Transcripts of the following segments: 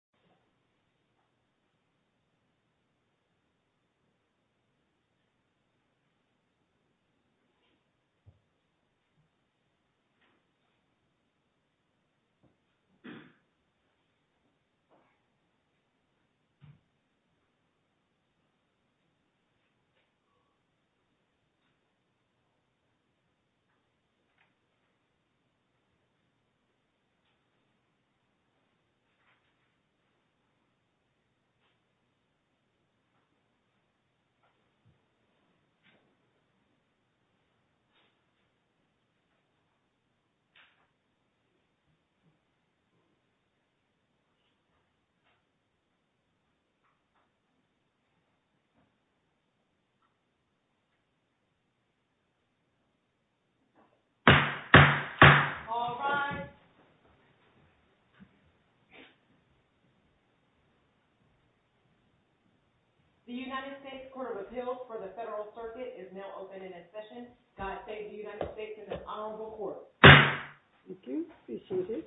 v.D.V. The United States Court of Appeals for the Federal Circuit is now open in its session. God save the United States and the Honorable Court. Thank you. Be seated.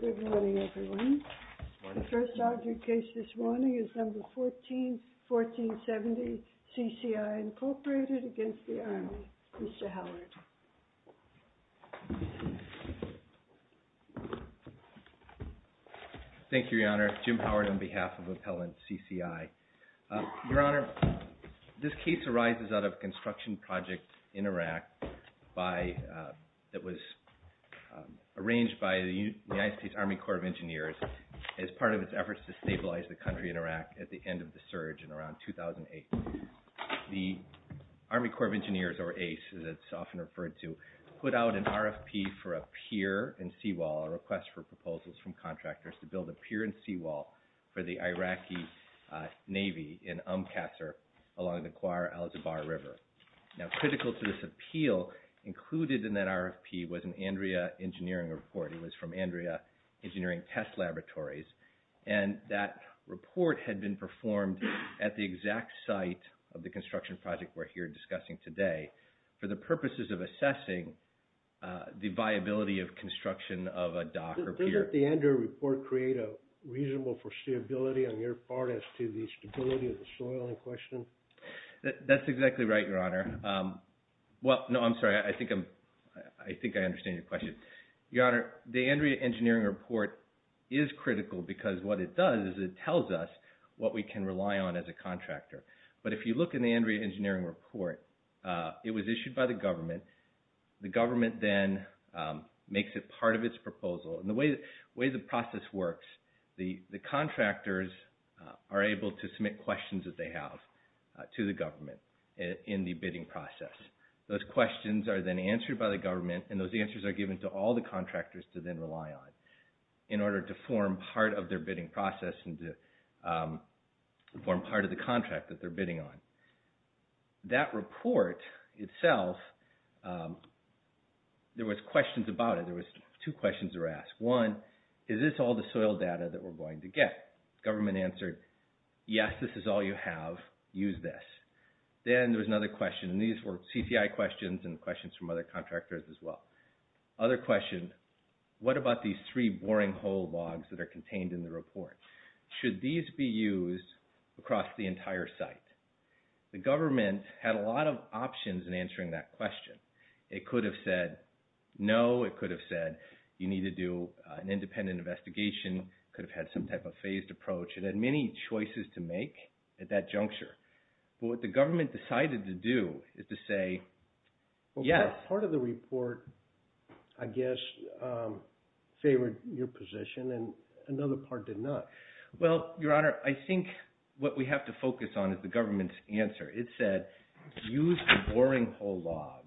Good morning, everyone. The first argued case this morning is No. 141470, CCI, Incorporated, against the Army. Mr. Howard. Thank you, Your Honor. Jim Howard on behalf of Appellant CCI. Your Honor, this case arises out of a construction project in Iraq that was arranged by the United States as part of its efforts to stabilize the country in Iraq at the end of the surge in around 2008. The Army Corps of Engineers, or ACE, as it's often referred to, put out an RFP for a pier and seawall, a request for proposals from contractors to build a pier and seawall for the Iraqi Navy in Umm Qasr along the Kwar-al-Jabbar River. Now, critical to this appeal included in that RFP was an Andrea engineering report. This was from Andrea Engineering Test Laboratories. That report had been performed at the exact site of the construction project we're here discussing today for the purposes of assessing the viability of construction of a dock or pier. Doesn't the Andrea report create a reasonable foreseeability on your part as to the stability of the soil in question? That's exactly right, Your Honor. No, I'm sorry. I think I understand your question. Your Honor, the Andrea engineering report is critical because what it does is it tells us what we can rely on as a contractor. But if you look in the Andrea engineering report, it was issued by the government. The government then makes it part of its proposal. And the way the process works, the contractors are able to submit questions that they have to the government in the bidding process. Those questions are then answered by the government, and those answers are given to all the contractors to then rely on in order to form part of their bidding process and to form part of the contract that they're bidding on. That report itself, there was questions about it. There was two questions that were asked. One, is this all the soil data that we're going to get? Government answered, yes, this is all you have. Use this. Then there was another question, and these were CCI questions and questions from other contractors as well. Other question, what about these three boring hole logs that are contained in the report? Should these be used across the entire site? The government had a lot of options in answering that question. It could have said, no. It could have said, you need to do an independent investigation. It could have had some type of phased approach. It had many choices to make at that juncture. What the government decided to do is to say, yes. Part of the report, I guess, favored your position, and another part did not. Well, Your Honor, I think what we have to focus on is the government's answer. It said, use the boring hole logs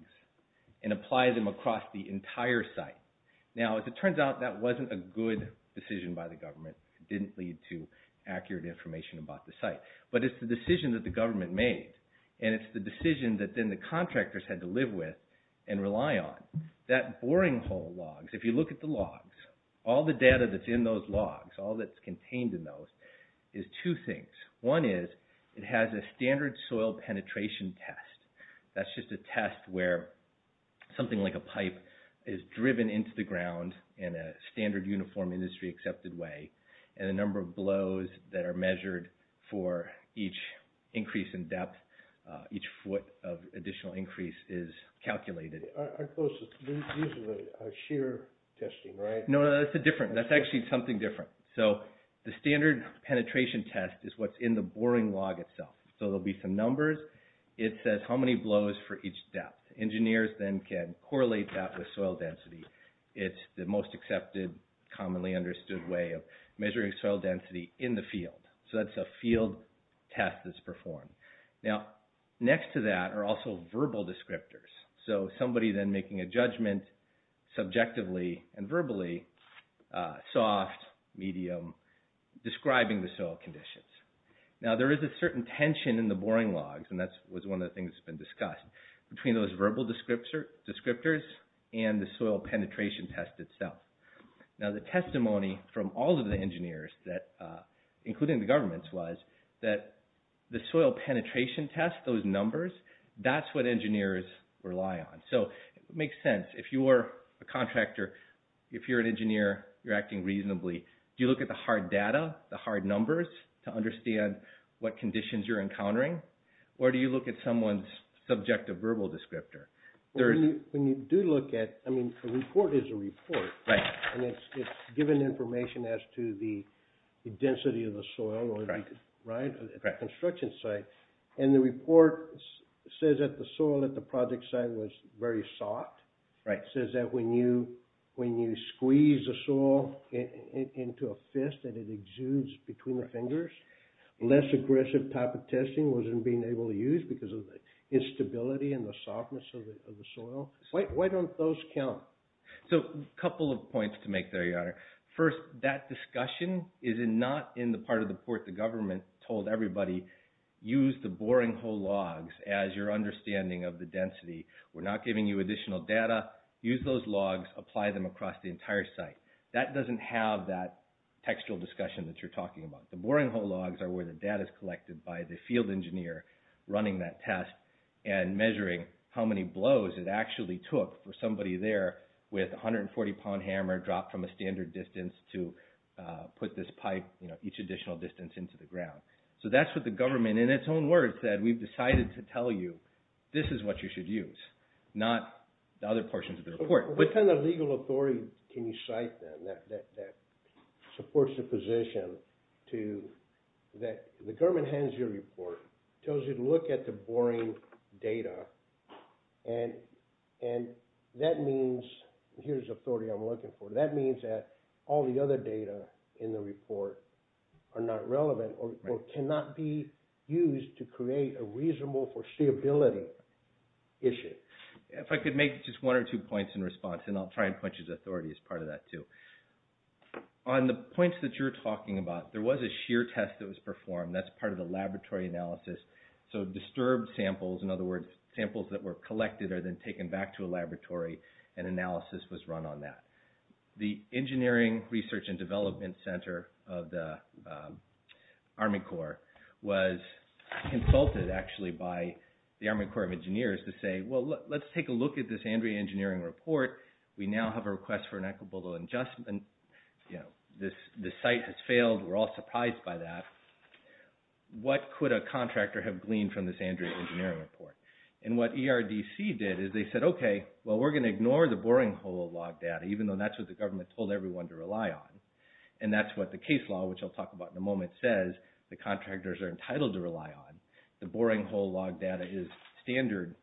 and apply them across the entire site. Now, as it turns out, that wasn't a good decision by the government. It didn't lead to accurate information about the site. But it's the decision that the government made, and it's the decision that then the contractors had to live with and rely on. That boring hole logs, if you look at the logs, all the data that's in those logs, all that's contained in those, is two things. One is, it has a standard soil penetration test. That's just a test where something like a pipe is driven into the ground in a standard, uniform, industry-accepted way, and the number of blows that are measured for each increase in depth, each foot of additional increase, is calculated. I suppose this is a shear testing, right? No, that's different. That's actually something different. The standard penetration test is what's in the boring log itself. There will be some numbers. It says how many blows for each depth. Engineers then can correlate that with soil density. It's the most accepted, commonly understood way of measuring soil density in the field. So that's a field test that's performed. Now, next to that are also verbal descriptors. So somebody then making a judgment subjectively and verbally, soft, medium, describing the soil conditions. Now, there is a certain tension in the boring logs, and that was one of the things that's been discussed, between those verbal descriptors and the soil penetration test itself. Now, the testimony from all of the engineers, including the governments, was that the soil penetration test, those numbers, that's what engineers rely on. So it makes sense. If you're a contractor, if you're an engineer, you're acting reasonably. Do you look at the hard data, the hard numbers, to understand what conditions you're encountering? Or do you look at someone's subjective verbal descriptor? When you do look at – I mean, a report is a report. And it's given information as to the density of the soil, right? At the construction site. And the report says that the soil at the project site was very soft. Right. It says that when you squeeze the soil into a fist, that it exudes between the fingers. Less aggressive type of testing wasn't being able to use because of the instability and the softness of the soil. Why don't those count? So a couple of points to make there, Your Honor. First, that discussion is not in the part of the report the government told everybody, use the boring hole logs as your understanding of the density. We're not giving you additional data. Use those logs. Apply them across the entire site. That doesn't have that textual discussion that you're talking about. The boring hole logs are where the data is collected by the field engineer running that test and measuring how many blows it actually took for somebody there with a 140-pound hammer dropped from a standard distance to put this pipe, you know, each additional distance into the ground. So that's what the government, in its own words, said. We've decided to tell you this is what you should use, not the other portions of the report. What kind of legal authority can you cite then that supports the position to that the government hands you a report, tells you to look at the boring data, and that means, here's the authority I'm looking for, that means that all the other data in the report are not relevant or cannot be used to create a reasonable foreseeability issue. If I could make just one or two points in response, and I'll try and point you to the authority as part of that too. On the points that you're talking about, there was a shear test that was performed. That's part of the laboratory analysis. So disturbed samples, in other words, samples that were collected are then taken back to a laboratory and analysis was run on that. The Engineering Research and Development Center of the Army Corps was consulted, actually, by the Army Corps of Engineers to say, well, let's take a look at this Andrea Engineering report. We now have a request for an equitable adjustment. You know, this site has failed. We're all surprised by that. What could a contractor have gleaned from this Andrea Engineering report? And what ERDC did is they said, okay, well, we're going to ignore the boring hole log data, even though that's what the government told everyone to rely on. And that's what the case law, which I'll talk about in a moment, says the contractors are entitled to rely on. The boring hole log data is standard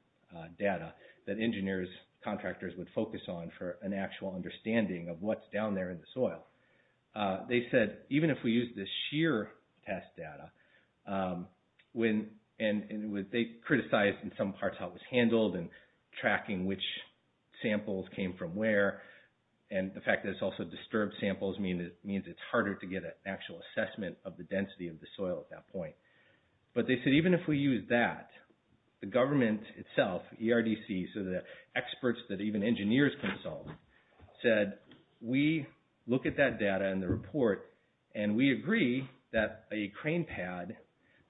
data that engineers, contractors, would focus on for an actual understanding of what's down there in the soil. They said, even if we use this shear test data, and they criticized in some parts how it was handled and tracking which samples came from where, and the fact that it's also disturbed samples means it's harder to get an actual assessment of the density of the soil at that point. But they said, even if we use that, the government itself, ERDC, so the experts that even engineers consult, said, we look at that data and the report, and we agree that a crane pad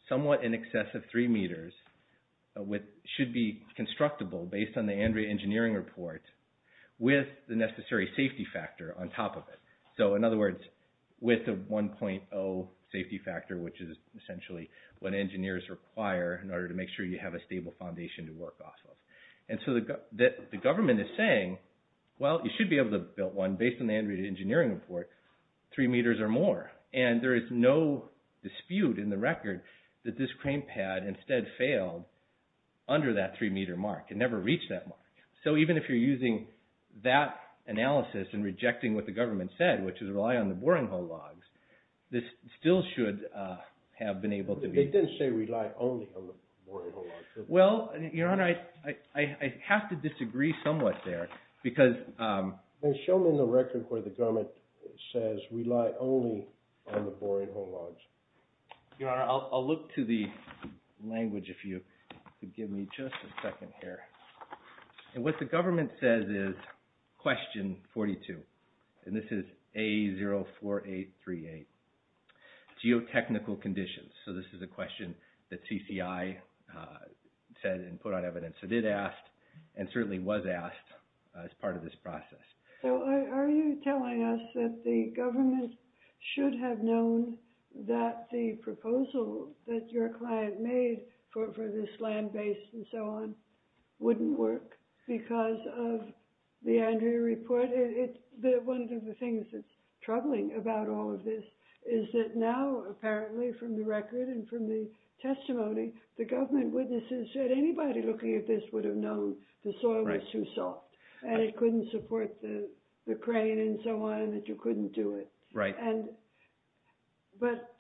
somewhat in excess of three meters should be constructible based on the Andrea Engineering Report with the necessary safety factor on top of it. So, in other words, with a 1.0 safety factor, which is essentially what engineers require in order to make sure you have a stable foundation to work off of. And so the government is saying, well, you should be able to build one based on the Andrea Engineering Report, three meters or more. And there is no dispute in the record that this crane pad, instead, failed under that three meter mark. It never reached that mark. So even if you're using that analysis and rejecting what the government said, which is rely on the boring hole logs, this still should have been able to be... They didn't say rely only on the boring hole logs. Well, Your Honor, I have to disagree somewhat there because... Show me the record where the government says rely only on the boring hole logs. Your Honor, I'll look to the language if you could give me just a second here. And what the government says is question 42. And this is A04838. Geotechnical conditions. So this is a question that CCI said and put out evidence. It did ask and certainly was asked as part of this process. So are you telling us that the government should have known that the proposal that your client made for this land base and so on wouldn't work because of the Andrea report? One of the things that's troubling about all of this is that now, apparently from the record and from the testimony, the government witnesses said anybody looking at this would have known the soil was too soft and it couldn't support the crane and so on and that you couldn't do it. Right. But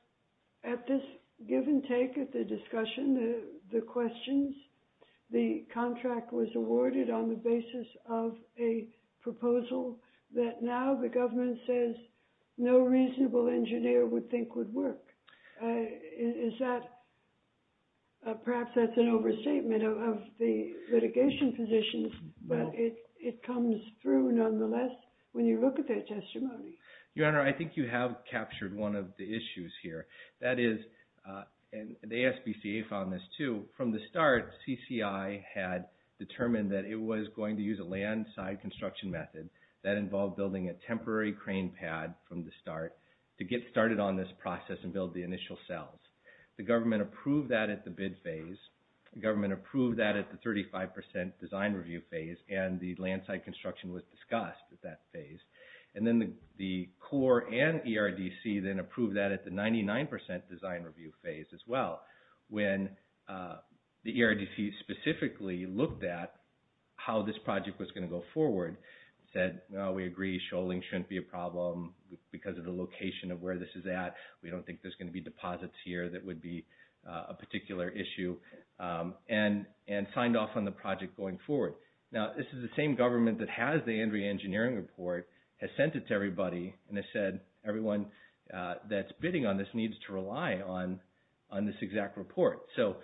at this give and take of the discussion, the questions, the contract was awarded on the basis of a proposal that now the government says no reasonable engineer would think would work. Is that perhaps that's an overstatement of the litigation positions, but it comes through nonetheless when you look at that testimony? Your Honor, I think you have captured one of the issues here. That is, and the ASPCA found this too, from the start, CCI had determined that it was going to use a land side construction method. That involved building a temporary crane pad from the start to get started on this process and build the initial cells. The government approved that at the bid phase. The government approved that at the 35% design review phase, and the land side construction was discussed at that phase. And then the core and ERDC then approved that at the 99% design review phase as well. When the ERDC specifically looked at how this project was going to go forward, said, no, we agree, shoaling shouldn't be a problem because of the location of where this is at. We don't think there's going to be deposits here that would be a particular issue, and signed off on the project going forward. Now this is the same government that has the Andrea Engineering Report, has sent it to everybody, and has said, everyone that's bidding on this needs to rely on this exact report. So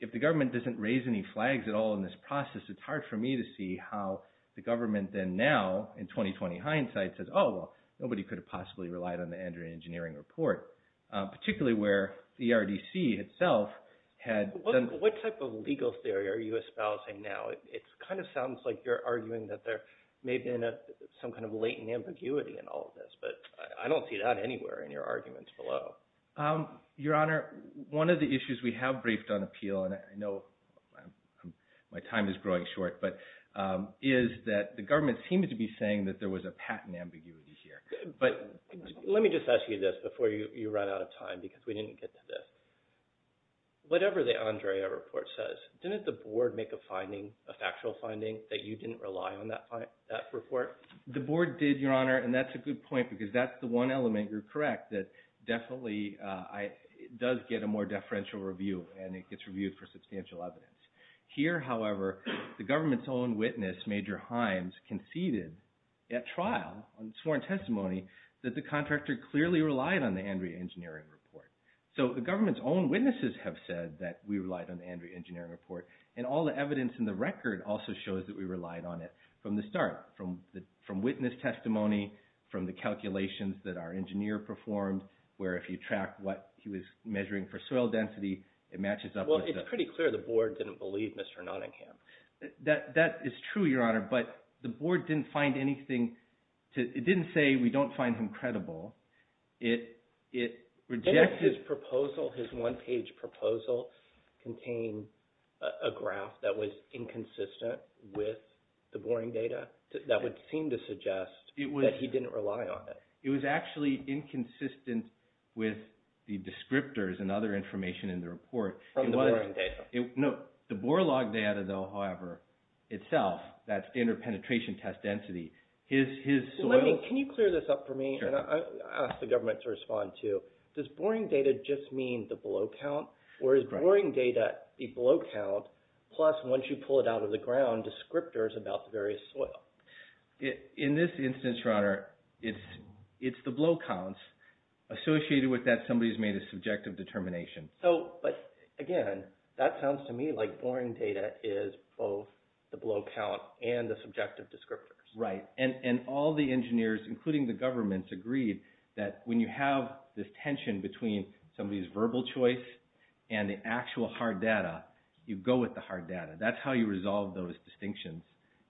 if the government doesn't raise any flags at all in this process, it's hard for me to see how the government then now, in 20-20 hindsight, says, oh, well, nobody could have possibly relied on the Andrea Engineering Report, particularly where the ERDC itself had done. What type of legal theory are you espousing now? It kind of sounds like you're arguing that there may have been some kind of latent ambiguity in all of this, but I don't see that anywhere in your arguments below. Your Honor, one of the issues we have briefed on appeal, and I know my time is growing short, is that the government seemed to be saying that there was a patent ambiguity here. Let me just ask you this before you run out of time, because we didn't get to this. Whatever the Andrea report says, didn't the board make a finding, a factual finding, that you didn't rely on that report? The board did, Your Honor, and that's a good point, because that's the one element, you're correct, that definitely does get a more deferential review, and it gets reviewed for substantial evidence. Here, however, the government's own witness, Major Himes, conceded at trial, on sworn testimony, that the contractor clearly relied on the Andrea Engineering Report. So the government's own witnesses have said that we relied on the Andrea Engineering Report, and all the evidence in the record also shows that we relied on it from the start, from witness testimony, from the calculations that our engineer performed, where if you track what he was measuring for soil density, it matches up with the- I don't believe Mr. Nottingham. That is true, Your Honor, but the board didn't find anything to- it didn't say we don't find him credible. It rejected- Didn't his proposal, his one-page proposal, contain a graph that was inconsistent with the boring data? That would seem to suggest that he didn't rely on it. It was actually inconsistent with the descriptors and other information in the report. From the boring data. No, the bore log data, though, however, itself, that's interpenetration test density, his soil- Can you clear this up for me? Sure. I'll ask the government to respond, too. Does boring data just mean the blow count, or is boring data the blow count, plus once you pull it out of the ground, descriptors about the various soil? In this instance, Your Honor, it's the blow counts associated with that somebody's made a subjective determination. But, again, that sounds to me like boring data is both the blow count and the subjective descriptors. Right, and all the engineers, including the government, agreed that when you have this tension between somebody's verbal choice and the actual hard data, you go with the hard data. That's how you resolve those distinctions.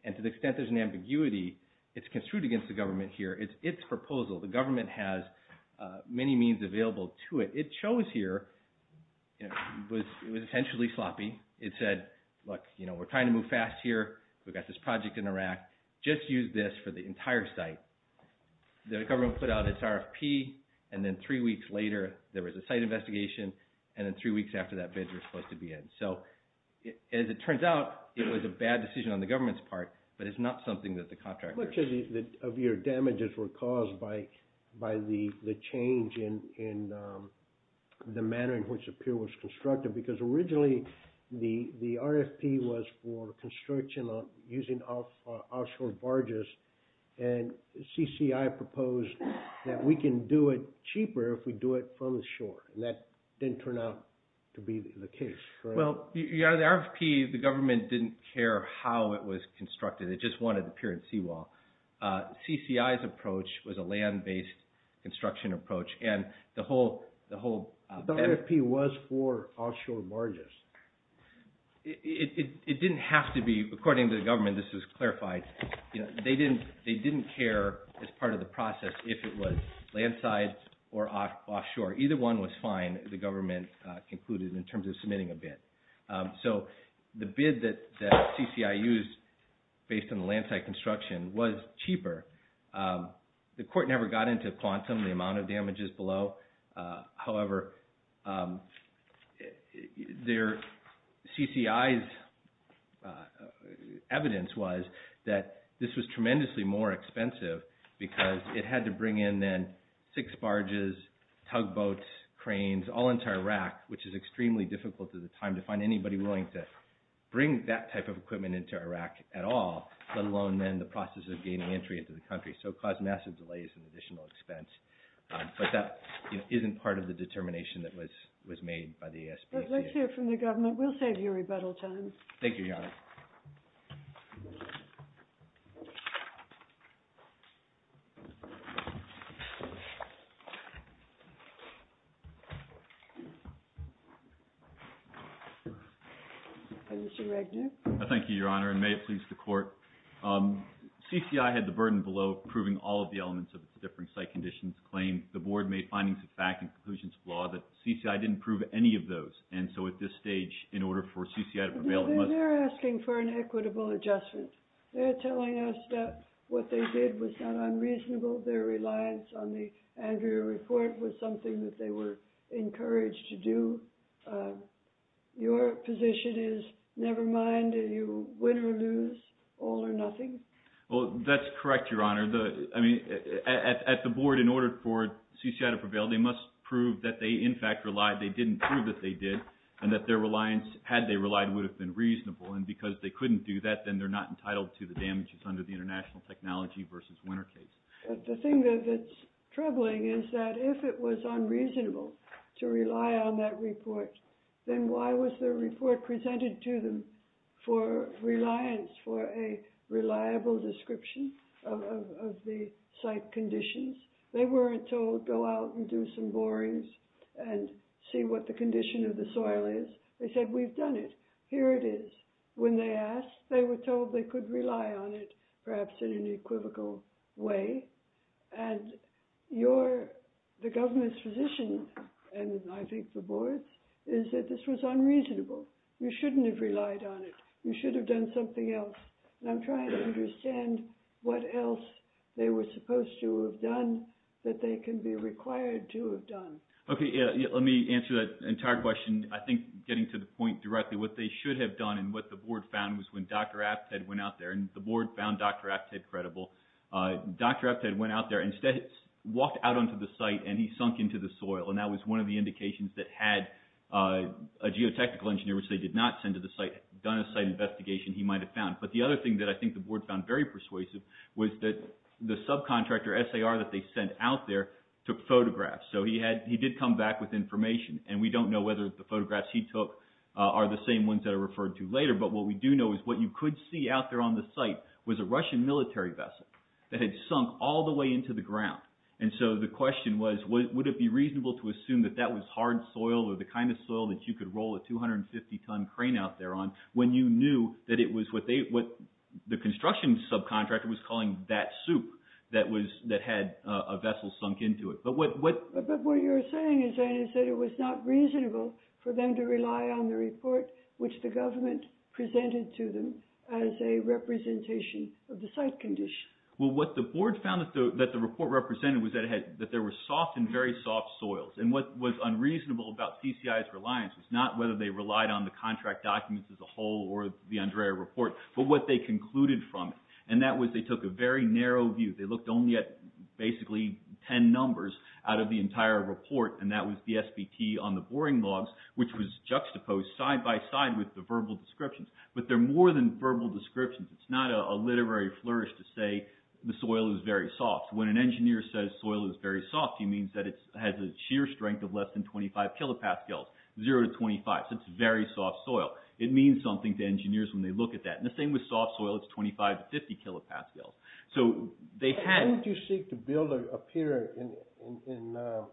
And to the extent there's an ambiguity, it's construed against the government here. It's its proposal. The government has many means available to it. What it chose here was essentially sloppy. It said, look, we're trying to move fast here. We've got this project in the rack. Just use this for the entire site. The government put out its RFP, and then three weeks later, there was a site investigation, and then three weeks after that, bids were supposed to be in. So, as it turns out, it was a bad decision on the government's part, but it's not something that the contractors- How much of your damages were caused by the change in the manner in which the pier was constructed? Because originally, the RFP was for construction using offshore barges, and CCI proposed that we can do it cheaper if we do it from the shore, and that didn't turn out to be the case, correct? Well, yeah, the RFP, the government didn't care how it was constructed. It just wanted the pier and seawall. CCI's approach was a land-based construction approach, and the whole- The RFP was for offshore barges. It didn't have to be. According to the government, this is clarified, they didn't care as part of the process if it was land side or offshore. Either one was fine, the government concluded, in terms of submitting a bid. So, the bid that CCI used based on the land side construction was cheaper. The court never got into quantum, the amount of damages below. However, CCI's evidence was that this was tremendously more expensive because it had to bring in then six barges, tugboats, cranes, all entire rack, which is extremely difficult at the time to find anybody willing to bring that type of equipment into Iraq at all, let alone then the process of gaining entry into the country. So, it caused massive delays and additional expense. But that isn't part of the determination that was made by the ASPCA. Let's hear from the government. We'll save you rebuttal time. Thank you, Your Honor. Mr. Regner. Thank you, Your Honor, and may it please the court. CCI had the burden below proving all of the elements of its differing site conditions. Claim, the board made findings of fact and conclusions of law that CCI didn't prove any of those. And so, at this stage, in order for CCI to prevail, it must... They're asking for an equitable adjustment. They're telling us that what they did was not unreasonable. Their reliance on the Andrea report was something that they were encouraged to do. Your position is, never mind, you win or lose, all or nothing? Well, that's correct, Your Honor. I mean, at the board, in order for CCI to prevail, they must prove that they, in fact, relied. They didn't prove that they did and that their reliance, had they relied, would have been reasonable. And because they couldn't do that, then they're not entitled to the damages under the international technology versus winner case. But the thing that's troubling is that if it was unreasonable to rely on that report, then why was the report presented to them for reliance, for a reliable description of the site conditions? They weren't told, go out and do some borings and see what the condition of the soil is. They said, we've done it. Here it is. When they asked, they were told they could rely on it, perhaps in an equivocal way. And the government's position, and I think the board's, is that this was unreasonable. You shouldn't have relied on it. You should have done something else. And I'm trying to understand what else they were supposed to have done that they can be required to have done. Okay, let me answer that entire question. I think getting to the point directly, what they should have done and what the board found was when Dr. Apted went out there, and the board found Dr. Apted credible, Dr. Apted went out there and walked out onto the site and he sunk into the soil. And that was one of the indications that had a geotechnical engineer, which they did not send to the site, done a site investigation, he might have found. But the other thing that I think the board found very persuasive was that the subcontractor, SAR, that they sent out there, took photographs. So he did come back with information, and we don't know whether the photographs he took are the same ones that are referred to later. But what we do know is what you could see out there on the site was a Russian military vessel that had sunk all the way into the ground. And so the question was, would it be reasonable to assume that that was hard soil or the kind of soil that you could roll a 250-ton crane out there on when you knew that it was what the construction subcontractor was calling that soup that had a vessel sunk into it. But what you're saying is that it was not reasonable for them to rely on the report, which the government presented to them, as a representation of the site condition. Well, what the board found that the report represented was that there were soft and very soft soils. And what was unreasonable about CCI's reliance was not whether they relied on the contract documents as a whole or the Andrea report, but what they concluded from it. And that was they took a very narrow view. They looked only at basically 10 numbers out of the entire report, and that was the SBT on the boring logs, which was juxtaposed side-by-side with the verbal descriptions. But they're more than verbal descriptions. It's not a literary flourish to say the soil is very soft. When an engineer says soil is very soft, he means that it has a shear strength of less than 25 kilopascals, 0 to 25. So it's very soft soil. It means something to engineers when they look at that. And the same with soft soil. It's 25 to 50 kilopascals. So they had- Why would you seek to build a pier in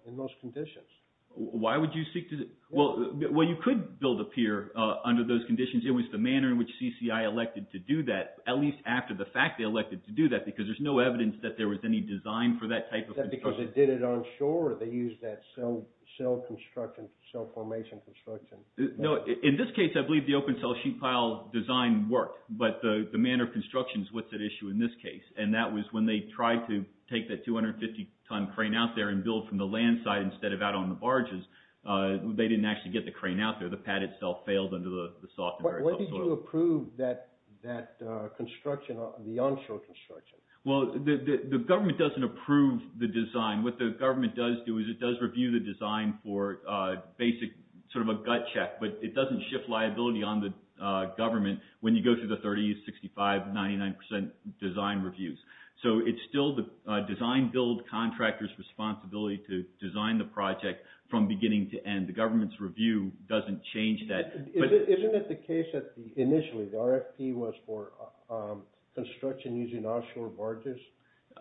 those conditions? Why would you seek to- Well, you could build a pier under those conditions. It was the manner in which CCI elected to do that, at least after the fact they elected to do that, because there's no evidence that there was any design for that type of construction. Because they did it onshore, or they used that cell construction, cell formation construction? No. In this case, I believe the open-cell sheet pile design worked. But the manner of construction is what's at issue in this case. And that was when they tried to take that 250-ton crane out there and build from the land side instead of out on the barges. They didn't actually get the crane out there. The pad itself failed under the soft and very soft soil. Why did you approve that construction, the onshore construction? Well, the government doesn't approve the design. What the government does do is it does review the design for basic sort of a gut check. But it doesn't shift liability on the government when you go through the 30, 65, 99 percent design reviews. So it's still the design-build contractor's responsibility to design the project from beginning to end. The government's review doesn't change that. Isn't it the case that initially the RFP was for construction using offshore barges?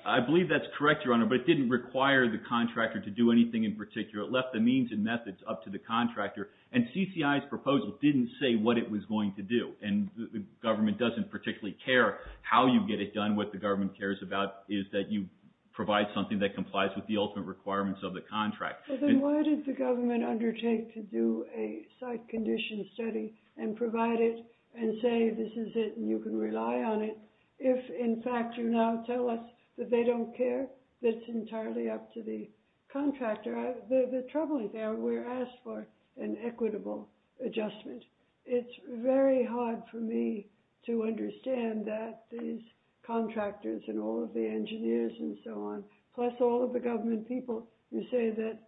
I believe that's correct, Your Honor, but it didn't require the contractor to do anything in particular. It left the means and methods up to the contractor. And CCI's proposal didn't say what it was going to do. And the government doesn't particularly care how you get it done. What the government cares about is that you provide something that complies with the ultimate requirements of the contract. Well, then why did the government undertake to do a site condition study and provide it and say this is it and you can rely on it if, in fact, you now tell us that they don't care? That's entirely up to the contractor. The troubling thing, we're asked for an equitable adjustment. It's very hard for me to understand that these contractors and all of the engineers and so on, plus all of the government people who say that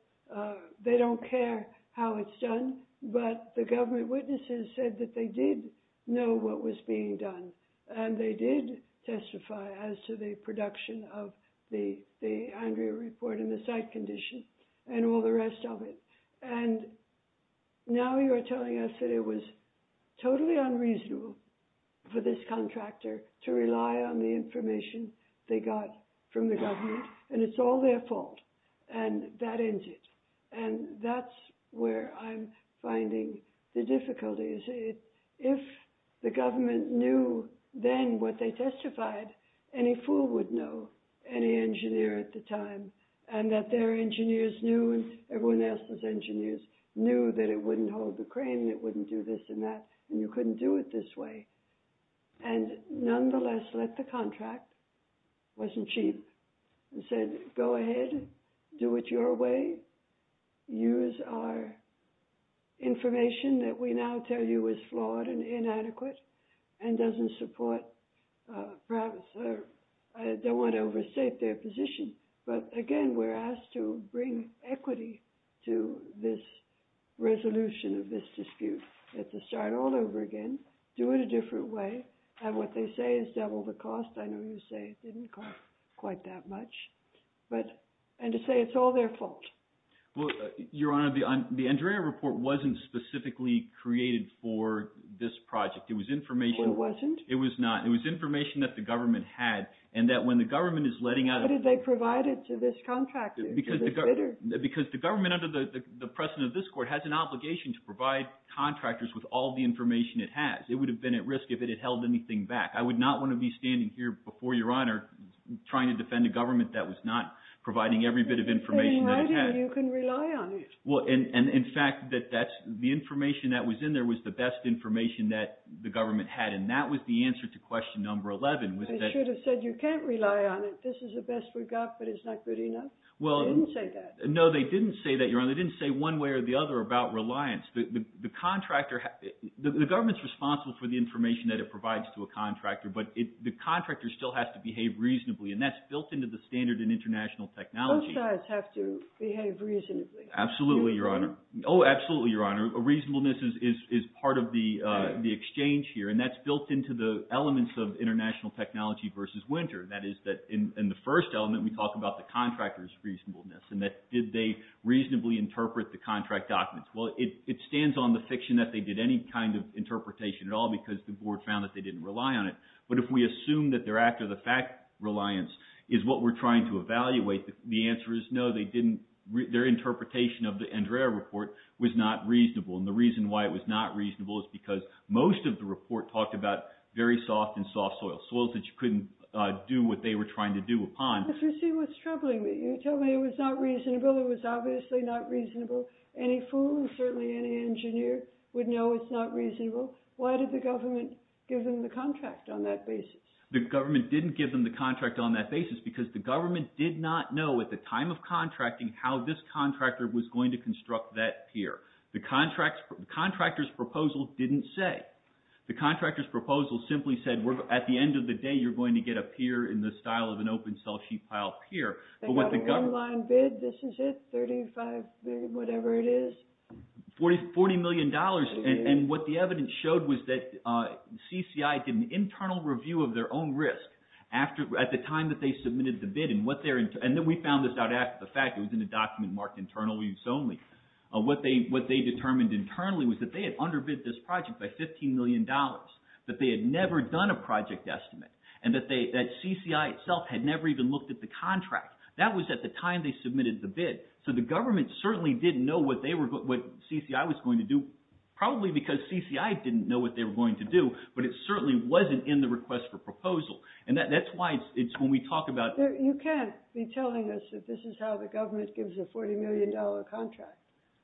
they don't care how it's done, but the government witnesses said that they did know what was being done. And they did testify as to the production of the Andrea report and the site condition and all the rest of it. And now you are telling us that it was totally unreasonable for this contractor to rely on the information they got from the government and it's all their fault and that ends it. And that's where I'm finding the difficulties. If the government knew then what they testified, any fool would know any engineer at the time and that their engineers knew and everyone else's engineers knew that it wouldn't hold the crane, it wouldn't do this and that, and you couldn't do it this way. And nonetheless, let the contract, wasn't cheap, and said go ahead, do it your way, use our information that we now tell you is flawed and inadequate and doesn't support, perhaps I don't want to overstate their position, but again, we're asked to bring equity to this resolution of this dispute. We have to start all over again, do it a different way, and what they say is double the cost. I know you say it didn't cost quite that much, and to say it's all their fault. Well, Your Honor, the Andrea report wasn't specifically created for this project. It was information. It wasn't? It was not. It was information that the government had and that when the government is letting out. How did they provide it to this contractor? Because the government under the precedent of this court has an obligation to provide contractors with all the information it has. It would have been at risk if it had held anything back. I would not want to be standing here before Your Honor trying to defend a government that was not providing every bit of information that it had. It's in writing. You can rely on it. In fact, the information that was in there was the best information that the government had, and that was the answer to question number 11. They should have said you can't rely on it. This is the best we've got, but it's not good enough. They didn't say that. No, they didn't say that, Your Honor. They didn't say one way or the other about reliance. The government's responsible for the information that it provides to a contractor, but the contractor still has to behave reasonably, and that's built into the standard in international technology. Both sides have to behave reasonably. Absolutely, Your Honor. Oh, absolutely, Your Honor. Reasonableness is part of the exchange here, and that's built into the elements of international technology versus Winter. That is that in the first element, we talk about the contractor's reasonableness and that did they reasonably interpret the contract documents. Well, it stands on the fiction that they did any kind of interpretation at all because the board found that they didn't rely on it. But if we assume that their act of the fact reliance is what we're trying to evaluate, the answer is no, they didn't. Their interpretation of the Andrea report was not reasonable, and the reason why it was not reasonable is because most of the report talked about very soft and soft soil, soils that you couldn't do what they were trying to do upon. You see what's troubling me. You tell me it was not reasonable. It was obviously not reasonable. Any fool and certainly any engineer would know it's not reasonable. Why did the government give them the contract on that basis? The government didn't give them the contract on that basis because the government did not know at the time of contracting how this contractor was going to construct that pier. The contractor's proposal didn't say. The contractor's proposal simply said, at the end of the day, you're going to get a pier in the style of an open-cell sheet pile pier. They got a one-line bid, this is it, $35 million, whatever it is? $40 million, and what the evidence showed was that CCI did an internal review of their own risk at the time that they submitted the bid. And then we found this out after the fact. It was in a document marked internal use only. What they determined internally was that they had underbid this project by $15 million, that they had never done a project estimate, and that CCI itself had never even looked at the contract. That was at the time they submitted the bid, so the government certainly didn't know what CCI was going to do, probably because CCI didn't know what they were going to do, but it certainly wasn't in the request for proposal. And that's why it's when we talk about— You can't be telling us that this is how the government gives a $40 million contract.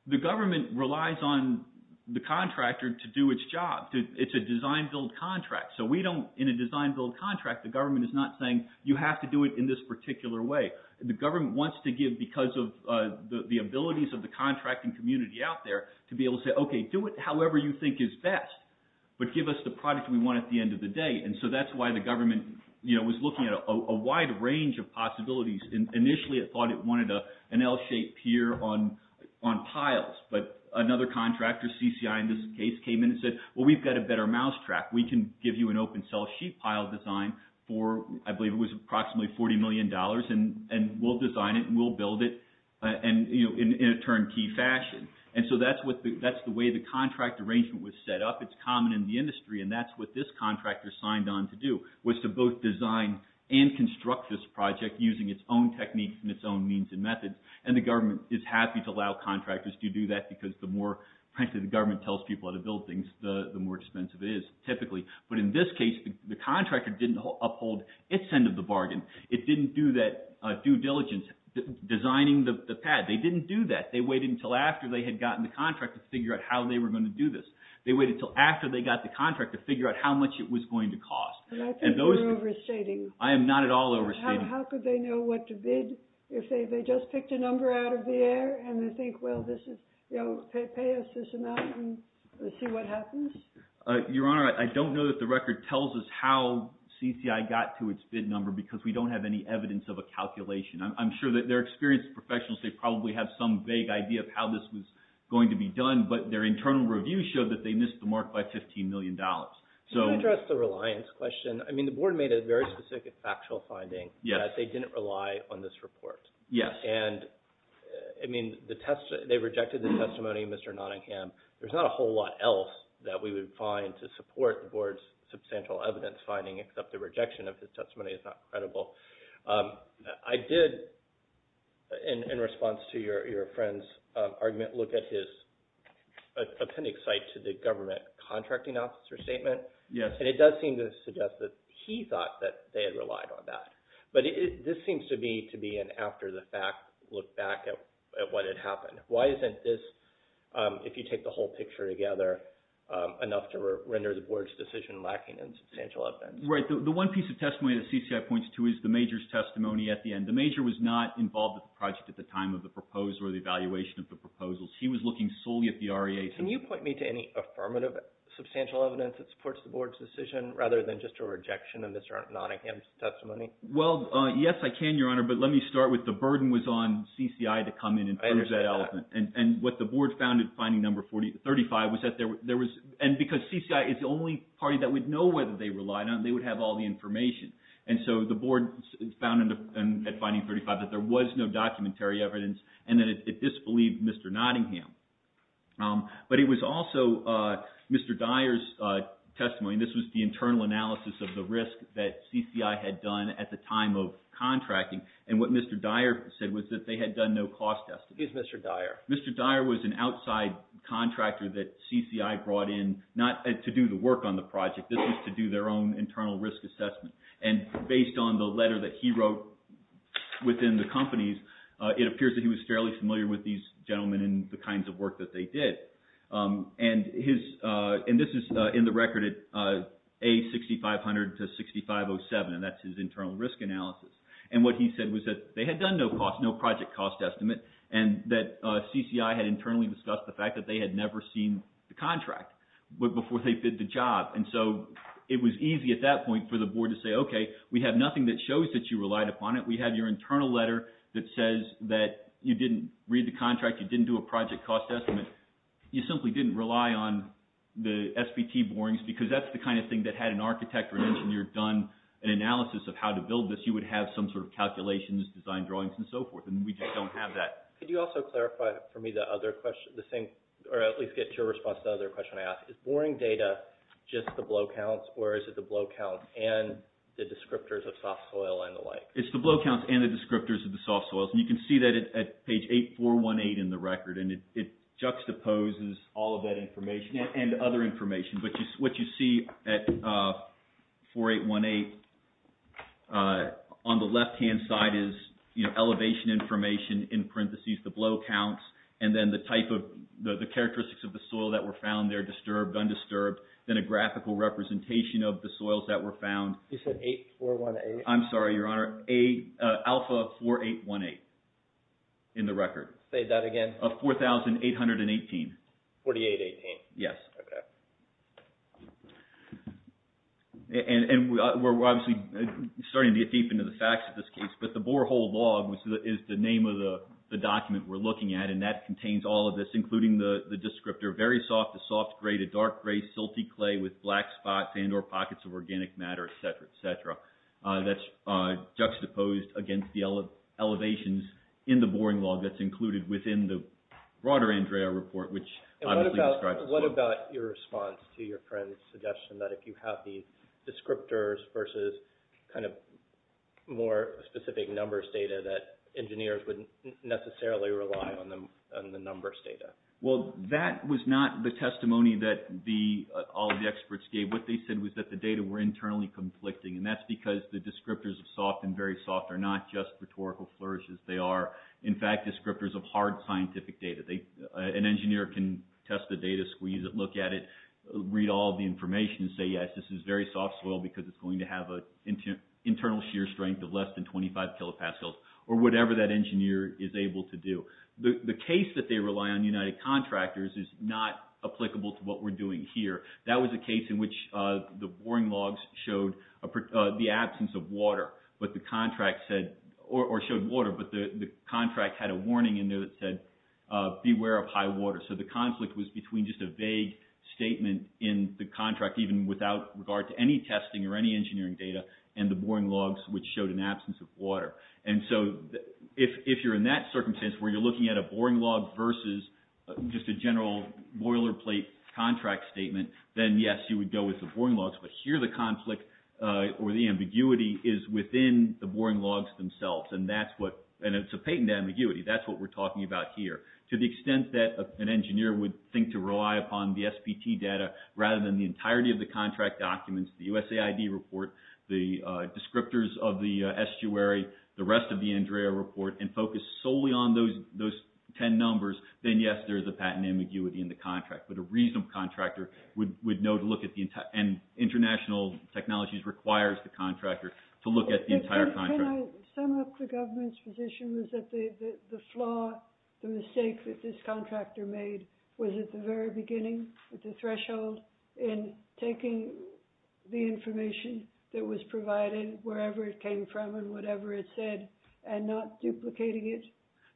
The government relies on the contractor to do its job. It's a design-build contract, so we don't— In a design-build contract, the government is not saying you have to do it in this particular way. The government wants to give because of the abilities of the contracting community out there to be able to say, okay, do it however you think is best, but give us the product we want at the end of the day. And so that's why the government was looking at a wide range of possibilities. Initially, it thought it wanted an L-shaped pier on piles, but another contractor, CCI in this case, came in and said, well, we've got a better mousetrap. We can give you an open-cell sheet pile design for, I believe it was approximately $40 million, and we'll design it and we'll build it in a turnkey fashion. And so that's the way the contract arrangement was set up. It's common in the industry, and that's what this contractor signed on to do, was to both design and construct this project using its own techniques and its own means and methods. And the government is happy to allow contractors to do that because the more— the more difficult things, the more expensive it is typically. But in this case, the contractor didn't uphold its end of the bargain. It didn't do that due diligence designing the pad. They didn't do that. They waited until after they had gotten the contract to figure out how they were going to do this. They waited until after they got the contract to figure out how much it was going to cost. And I think you're overstating. I am not at all overstating. How could they know what to bid if they just picked a number out of the air and they think, well, this is—you know, pay us this amount and we'll see what happens? Your Honor, I don't know that the record tells us how CCI got to its bid number because we don't have any evidence of a calculation. I'm sure that they're experienced professionals. They probably have some vague idea of how this was going to be done, but their internal review showed that they missed the mark by $15 million. Can I address the reliance question? I mean, the board made a very specific factual finding that they didn't rely on this report. Yes. And, I mean, they rejected the testimony of Mr. Nottingham. There's not a whole lot else that we would find to support the board's substantial evidence finding except the rejection of his testimony is not credible. I did, in response to your friend's argument, look at his appendix site to the government contracting officer statement. Yes. And it does seem to suggest that he thought that they had relied on that. But this seems to be an after-the-fact look back at what had happened. Why isn't this, if you take the whole picture together, enough to render the board's decision lacking in substantial evidence? Right. The one piece of testimony that CCI points to is the major's testimony at the end. The major was not involved with the project at the time of the proposal or the evaluation of the proposals. He was looking solely at the REA. Can you point me to any affirmative substantial evidence that supports the board's decision rather than just a rejection of Mr. Nottingham's testimony? Well, yes, I can, Your Honor. But let me start with the burden was on CCI to come in and pose that element. I understand that. And what the board found at finding number 35 was that there was – and because CCI is the only party that would know whether they relied on it, they would have all the information. And so the board found at finding 35 that there was no documentary evidence and that it disbelieved Mr. Nottingham. But it was also Mr. Dyer's testimony, and this was the internal analysis of the risk that CCI had done at the time of contracting. And what Mr. Dyer said was that they had done no cost testing. Who's Mr. Dyer? Mr. Dyer was an outside contractor that CCI brought in not to do the work on the project. This was to do their own internal risk assessment. And based on the letter that he wrote within the companies, it appears that he was fairly familiar with these gentlemen and the kinds of work that they did. And this is in the record at A6500-6507, and that's his internal risk analysis. And what he said was that they had done no project cost estimate and that CCI had internally discussed the fact that they had never seen the contract before they did the job. And so it was easy at that point for the board to say, okay, we have nothing that shows that you relied upon it. We have your internal letter that says that you didn't read the contract, you didn't do a project cost estimate, you simply didn't rely on the SBT borings because that's the kind of thing that had an architect or an engineer done an analysis of how to build this. You would have some sort of calculations, design drawings, and so forth. And we just don't have that. Could you also clarify for me the other question, or at least get to your response to the other question I asked? Is boring data just the blow counts, or is it the blow count and the descriptors of soft soil and the like? It's the blow counts and the descriptors of the soft soils. And you can see that at page 8418 in the record, and it juxtaposes all of that information and other information. But what you see at 4818 on the left-hand side is elevation information in parentheses, the blow counts, and then the characteristics of the soil that were found there, disturbed, undisturbed, then a graphical representation of the soils that were found. You said 8418? I'm sorry, Your Honor. Alpha 4818 in the record. Say that again. Of 4818. 4818. Yes. And we're obviously starting to get deep into the facts of this case, but the borehole log is the name of the document we're looking at, and that contains all of this, including the descriptor, very soft to soft gray to dark gray silty clay with black spots and or pockets of organic matter, et cetera, et cetera. That's juxtaposed against the elevations in the boring log that's included within the broader Andrea report, which obviously describes the soil. And what about your response to your friend's suggestion that if you have the descriptors versus kind of more specific numbers data that engineers wouldn't necessarily rely on the numbers data? Well, that was not the testimony that all of the experts gave. What they said was that the data were internally conflicting, and that's because the descriptors of soft and very soft are not just rhetorical flourishes. They are, in fact, descriptors of hard scientific data. An engineer can test the data, squeeze it, look at it, read all the information and say, yes, this is very soft soil because it's going to have an internal shear strength of less than 25 kilopascals or whatever that engineer is able to do. The case that they rely on United Contractors is not applicable to what we're doing here. That was a case in which the boring logs showed the absence of water, or showed water, but the contract had a warning in there that said beware of high water. So the conflict was between just a vague statement in the contract, even without regard to any testing or any engineering data, and the boring logs, which showed an absence of water. And so if you're in that circumstance where you're looking at a boring log versus just a general boilerplate contract statement, then yes, you would go with the boring logs. But here the conflict or the ambiguity is within the boring logs themselves, and it's a patent ambiguity. That's what we're talking about here. To the extent that an engineer would think to rely upon the SPT data rather than the entirety of the contract documents, the USAID report, the descriptors of the estuary, the rest of the Andrea report, and focus solely on those 10 numbers, then yes, there's a patent ambiguity in the contract. But a reasonable contractor would know to look at the entire, and international technologies requires the contractor to look at the entire contract. Can I sum up the government's position? Was that the flaw, the mistake that this contractor made was at the very beginning, at the threshold, in taking the information that was provided wherever it came from and whatever it said, and not duplicating it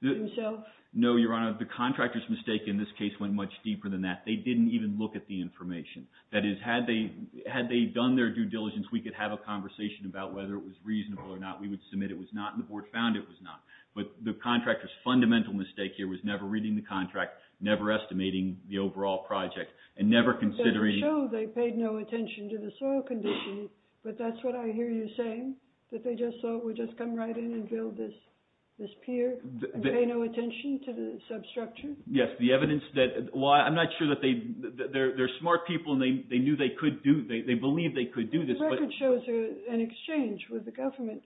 himself? No, Your Honor. The contractor's mistake in this case went much deeper than that. They didn't even look at the information. That is, had they done their due diligence, we could have a conversation about whether it was reasonable or not. We would submit it was not, and the board found it was not. But the contractor's fundamental mistake here was never reading the contract, never estimating the overall project, and never considering... It doesn't show they paid no attention to the soil condition, but that's what I hear you saying, that they just thought we'd just come right in and build this pier and pay no attention to the substructure? Yes, the evidence that, well, I'm not sure that they, they're smart people and they knew they could do, they believed they could do this, but... There was an exchange with the government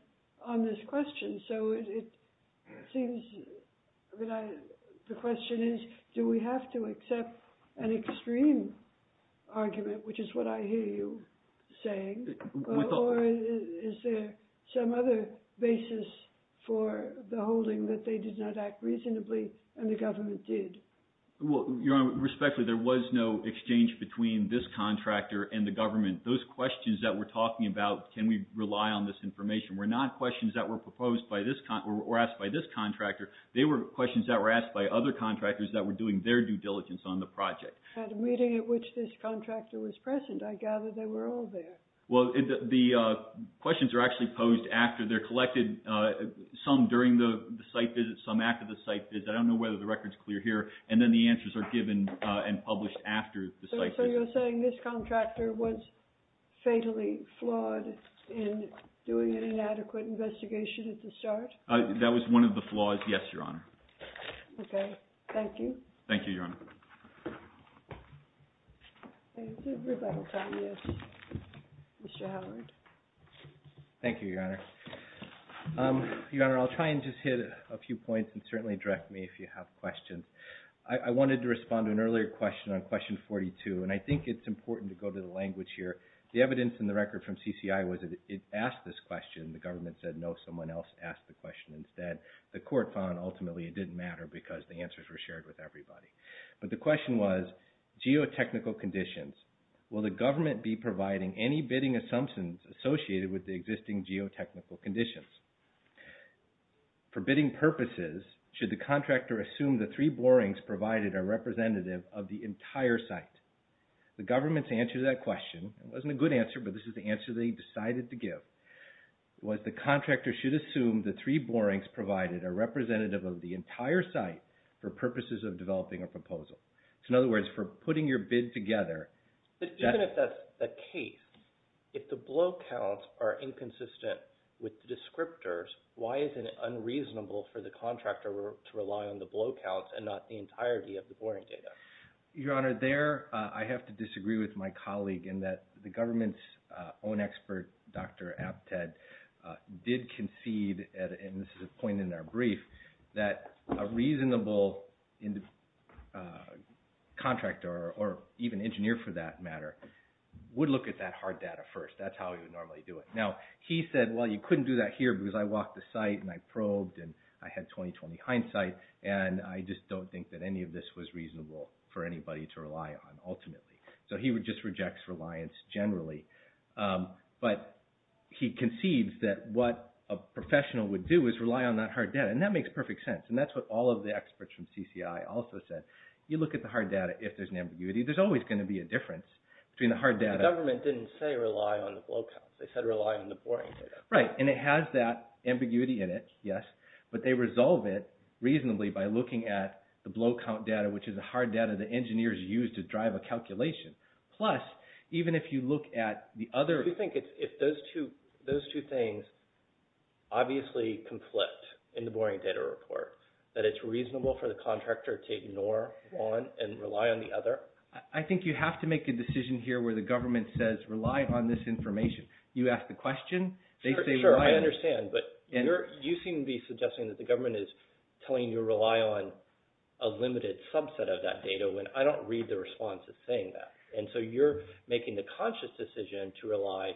on this question, so it seems that I, the question is, do we have to accept an extreme argument, which is what I hear you saying, or is there some other basis for the holding that they did not act reasonably and the government did? Well, Your Honor, respectfully, there was no exchange between this contractor and the government. Those questions that we're talking about, can we rely on this information, were not questions that were proposed by this, or asked by this contractor. They were questions that were asked by other contractors that were doing their due diligence on the project. At a meeting at which this contractor was present, I gather they were all there. Well, the questions are actually posed after, they're collected, some during the site visit, some after the site visit, I don't know whether the record's clear here, and then the answers are given and published after the site visit. So you're saying this contractor was fatally flawed in doing an inadequate investigation at the start? That was one of the flaws, yes, Your Honor. Thank you, Your Honor. Thank you, Your Honor. Your Honor, I'll try and just hit a few points and certainly direct me if you have questions. I wanted to respond to an earlier question on question 42, and I think it's important to go to the language here. The evidence in the record from CCI was that it asked this question, the government said no, someone else asked the question instead. The court found ultimately it didn't matter because the answers were shared with everybody. But the question was, geotechnical conditions. Will the government be providing any bidding assumptions associated with the existing geotechnical conditions? For bidding purposes, should the contractor assume the three borings provided are representative of the entire site? The government's answer to that question, it wasn't a good answer, but this is the answer they decided to give, was the contractor should assume the three borings provided are representative of the entire site for purposes of developing a proposal. So in other words, for putting your bid together... Even if that's the case, if the blow counts are inconsistent with the descriptors, why isn't it unreasonable for the contractor to rely on the blow counts and not the entirety of the boring data? Your Honor, there I have to disagree with my colleague in that the government's own expert, Dr. Abtad, did concede, and this is a point in our brief, that a reasonable contractor, or even engineer for that matter, would look at that hard data first. That's how he would normally do it. Now, he said, well, you couldn't do that here because I walked the site and I probed and I had 20-20 hindsight, and I just don't think that any of this was reasonable for anybody to rely on ultimately. So he just rejects reliance generally. But he concedes that what a professional would do is rely on that hard data, and that makes perfect sense, and that's what all of the experts from CCI also said. You look at the hard data, if there's an ambiguity, there's always going to be a difference between the hard data... The government didn't say rely on the blow counts. They said rely on the boring data. Right, and it has that ambiguity in it, yes, but they resolve it reasonably by looking at the blow count data, which is the hard data that engineers use to drive a calculation. Plus, even if you look at the other... Do you think if those two things obviously conflict in the boring data report, that it's reasonable for the contractor to ignore one and rely on the other? I think you have to make a decision here where the government says rely on this information. You ask the question, they say rely on... Sure, I understand, but you seem to be suggesting that the government is telling you to rely on a limited subset of that data, when I don't read the response as saying that, and so you're making the conscious decision to rely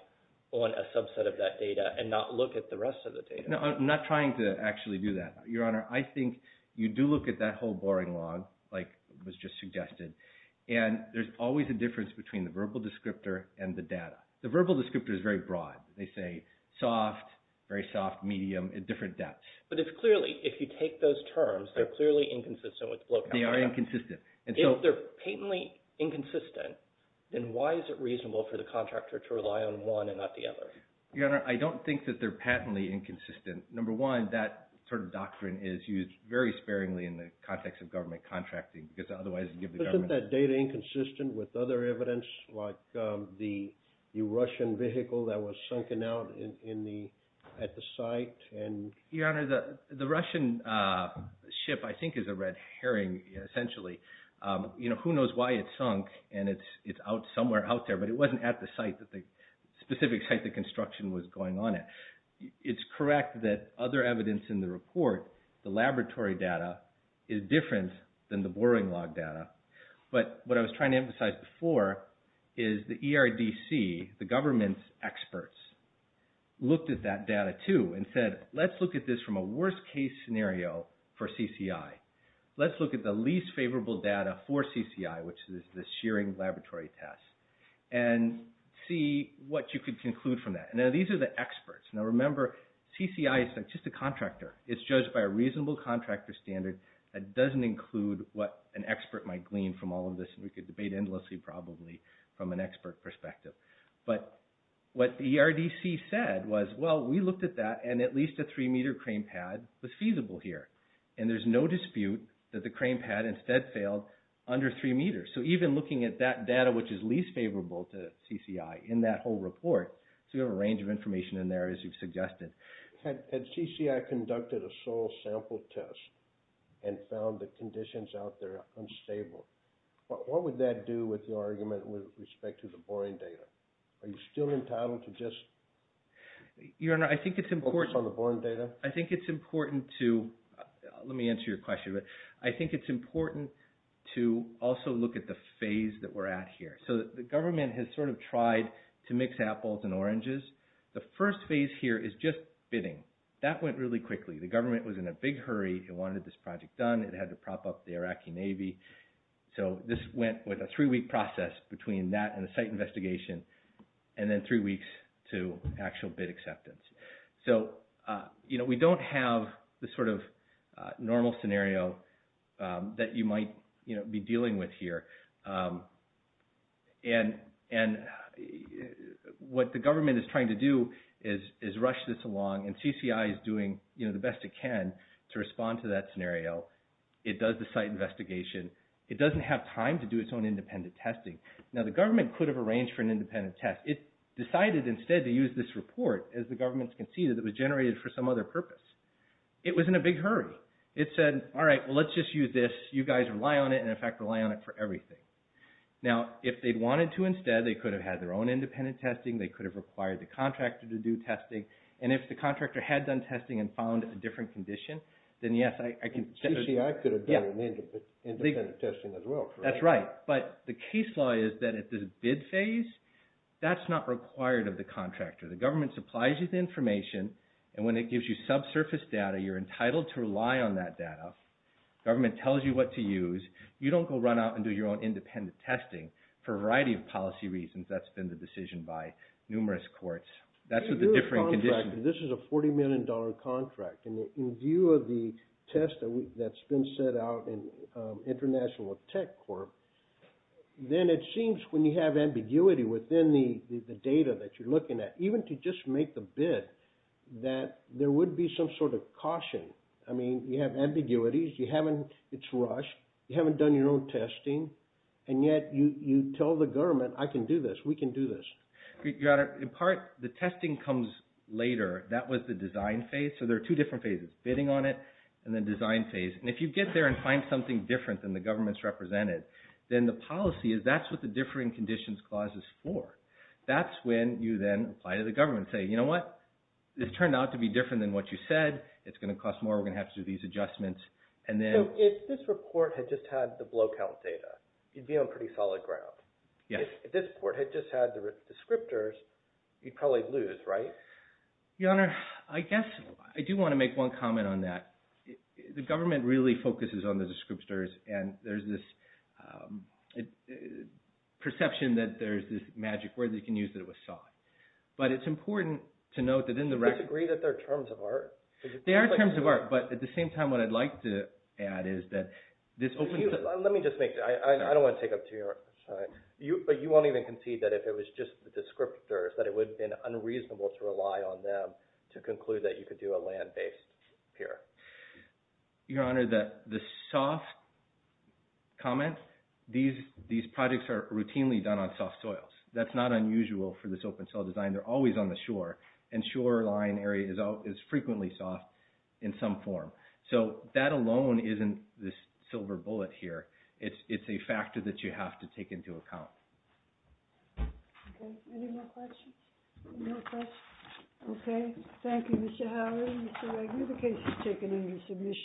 on a subset of that data and not look at the rest of the data. No, I'm not trying to actually do that, Your Honor. I think you do look at that whole boring log, like was just suggested, and there's always a difference between the verbal descriptor and the data. The verbal descriptor is very broad. They say soft, very soft, medium, at different depths. But it's clearly, if you take those terms, they're clearly inconsistent with the blow count data. They are inconsistent. If they're patently inconsistent, then why is it reasonable for the contractor to rely on one and not the other? Your Honor, I don't think that they're patently inconsistent. Number one, that sort of doctrine is used very sparingly in the context of government contracting, because otherwise you give the government... Isn't that data inconsistent with other evidence, like the Russian vehicle that was sunken out at the site? Your Honor, the Russian ship I think is a Red Herring, essentially. Who knows why it sunk and it's somewhere out there, but it wasn't at the specific site the construction was going on at. It's correct that other evidence in the report, the laboratory data, is different than the boring log data. But what I was trying to emphasize before is the ERDC, the government's experts, looked at that data too and said, let's look at this from a worst case scenario for CCI. Let's look at the least favorable data for CCI, which is the shearing laboratory test, and see what you could conclude from that. Now, these are the experts. Now, remember, CCI is just a contractor. It's judged by a reasonable contractor standard. That doesn't include what an expert might glean from all of this, and we could debate endlessly probably from an expert perspective. But what the ERDC said was, well, we looked at that, and at least a three-meter crane pad was feasible here. And there's no dispute that the crane pad instead failed under three meters. So even looking at that data, which is least favorable to CCI in that whole report, so you have a range of information in there, as you've suggested. Had CCI conducted a soil sample test and found the conditions out there unstable, what would that do with your argument with respect to the boring data? Are you still entitled to just focus on the boring data? I think it's important to also look at the phase that we're at here. So the government has sort of tried to mix apples and oranges. The first phase here is just bidding. That went really quickly. The government was in a big hurry. It wanted this project done. It had to prop up the Iraqi Navy. So this went with a three-week process between that and the site investigation, and then three weeks to actual bid acceptance. So we don't have the sort of normal scenario that you might be dealing with here. And what the government is trying to do is rush this along, and CCI is doing the best it can to respond to that scenario. It does the site investigation. It doesn't have time to do its own independent testing. Now, the government could have arranged for an independent test. It decided instead to use this report, as the government conceded, that was generated for some other purpose. It was in a big hurry. It said, all right, well, let's just use this. You guys rely on it, and, in fact, rely on it for everything. Now, if they'd wanted to instead, they could have had their own independent testing. They could have required the contractor to do testing. And if the contractor had done testing and found a different condition, then, yes, I could have done independent testing as well. That's right. But the case law is that at the bid phase, that's not required of the contractor. The government supplies you the information, and when it gives you subsurface data, you're entitled to rely on that data. The government tells you what to use. You don't go run out and do your own independent testing for a variety of policy reasons. That's been the decision by numerous courts. That's a different condition. This is a $40 million contract, and in view of the test that's been set out in International Tech Corp, then it seems when you have ambiguity within the data that you're looking at, even to just make the bid, that there would be some sort of caution. I mean, you have ambiguities. It's rushed. You haven't done your own testing, and yet you tell the government, I can do this. We can do this. In part, the testing comes later. That was the design phase. So there are two different phases, bidding on it and the design phase. And if you get there and find something different than the government's represented, then the policy is that's what the differing conditions clause is for. That's when you then apply to the government and say, you know what? This turned out to be different than what you said. It's going to cost more. We're going to have to do these adjustments. So if this report had just had the blow count data, you'd be on pretty solid ground. Yes. If this report had just had the descriptors, you'd probably lose, right? Your Honor, I guess I do want to make one comment on that. The government really focuses on the descriptors, and there's this perception that there's this magic word that you can use that it was sought. But it's important to note that in the record – Do you disagree that they're terms of art? They are terms of art, but at the same time, what I'd like to add is that this – Let me just make – I don't want to take up too much of your time. But you won't even concede that if it was just the descriptors, that it would have been unreasonable to rely on them to conclude that you could do a land-based pier. Your Honor, the soft comment, these projects are routinely done on soft soils. That's not unusual for this open soil design. They're always on the shore, and shoreline area is frequently soft in some form. So that alone isn't this silver bullet here. It's a factor that you have to take into account. Okay. Any more questions? No questions? Okay. Thank you, Mr. Howard. Mr. Wagner, the case is taken into submission.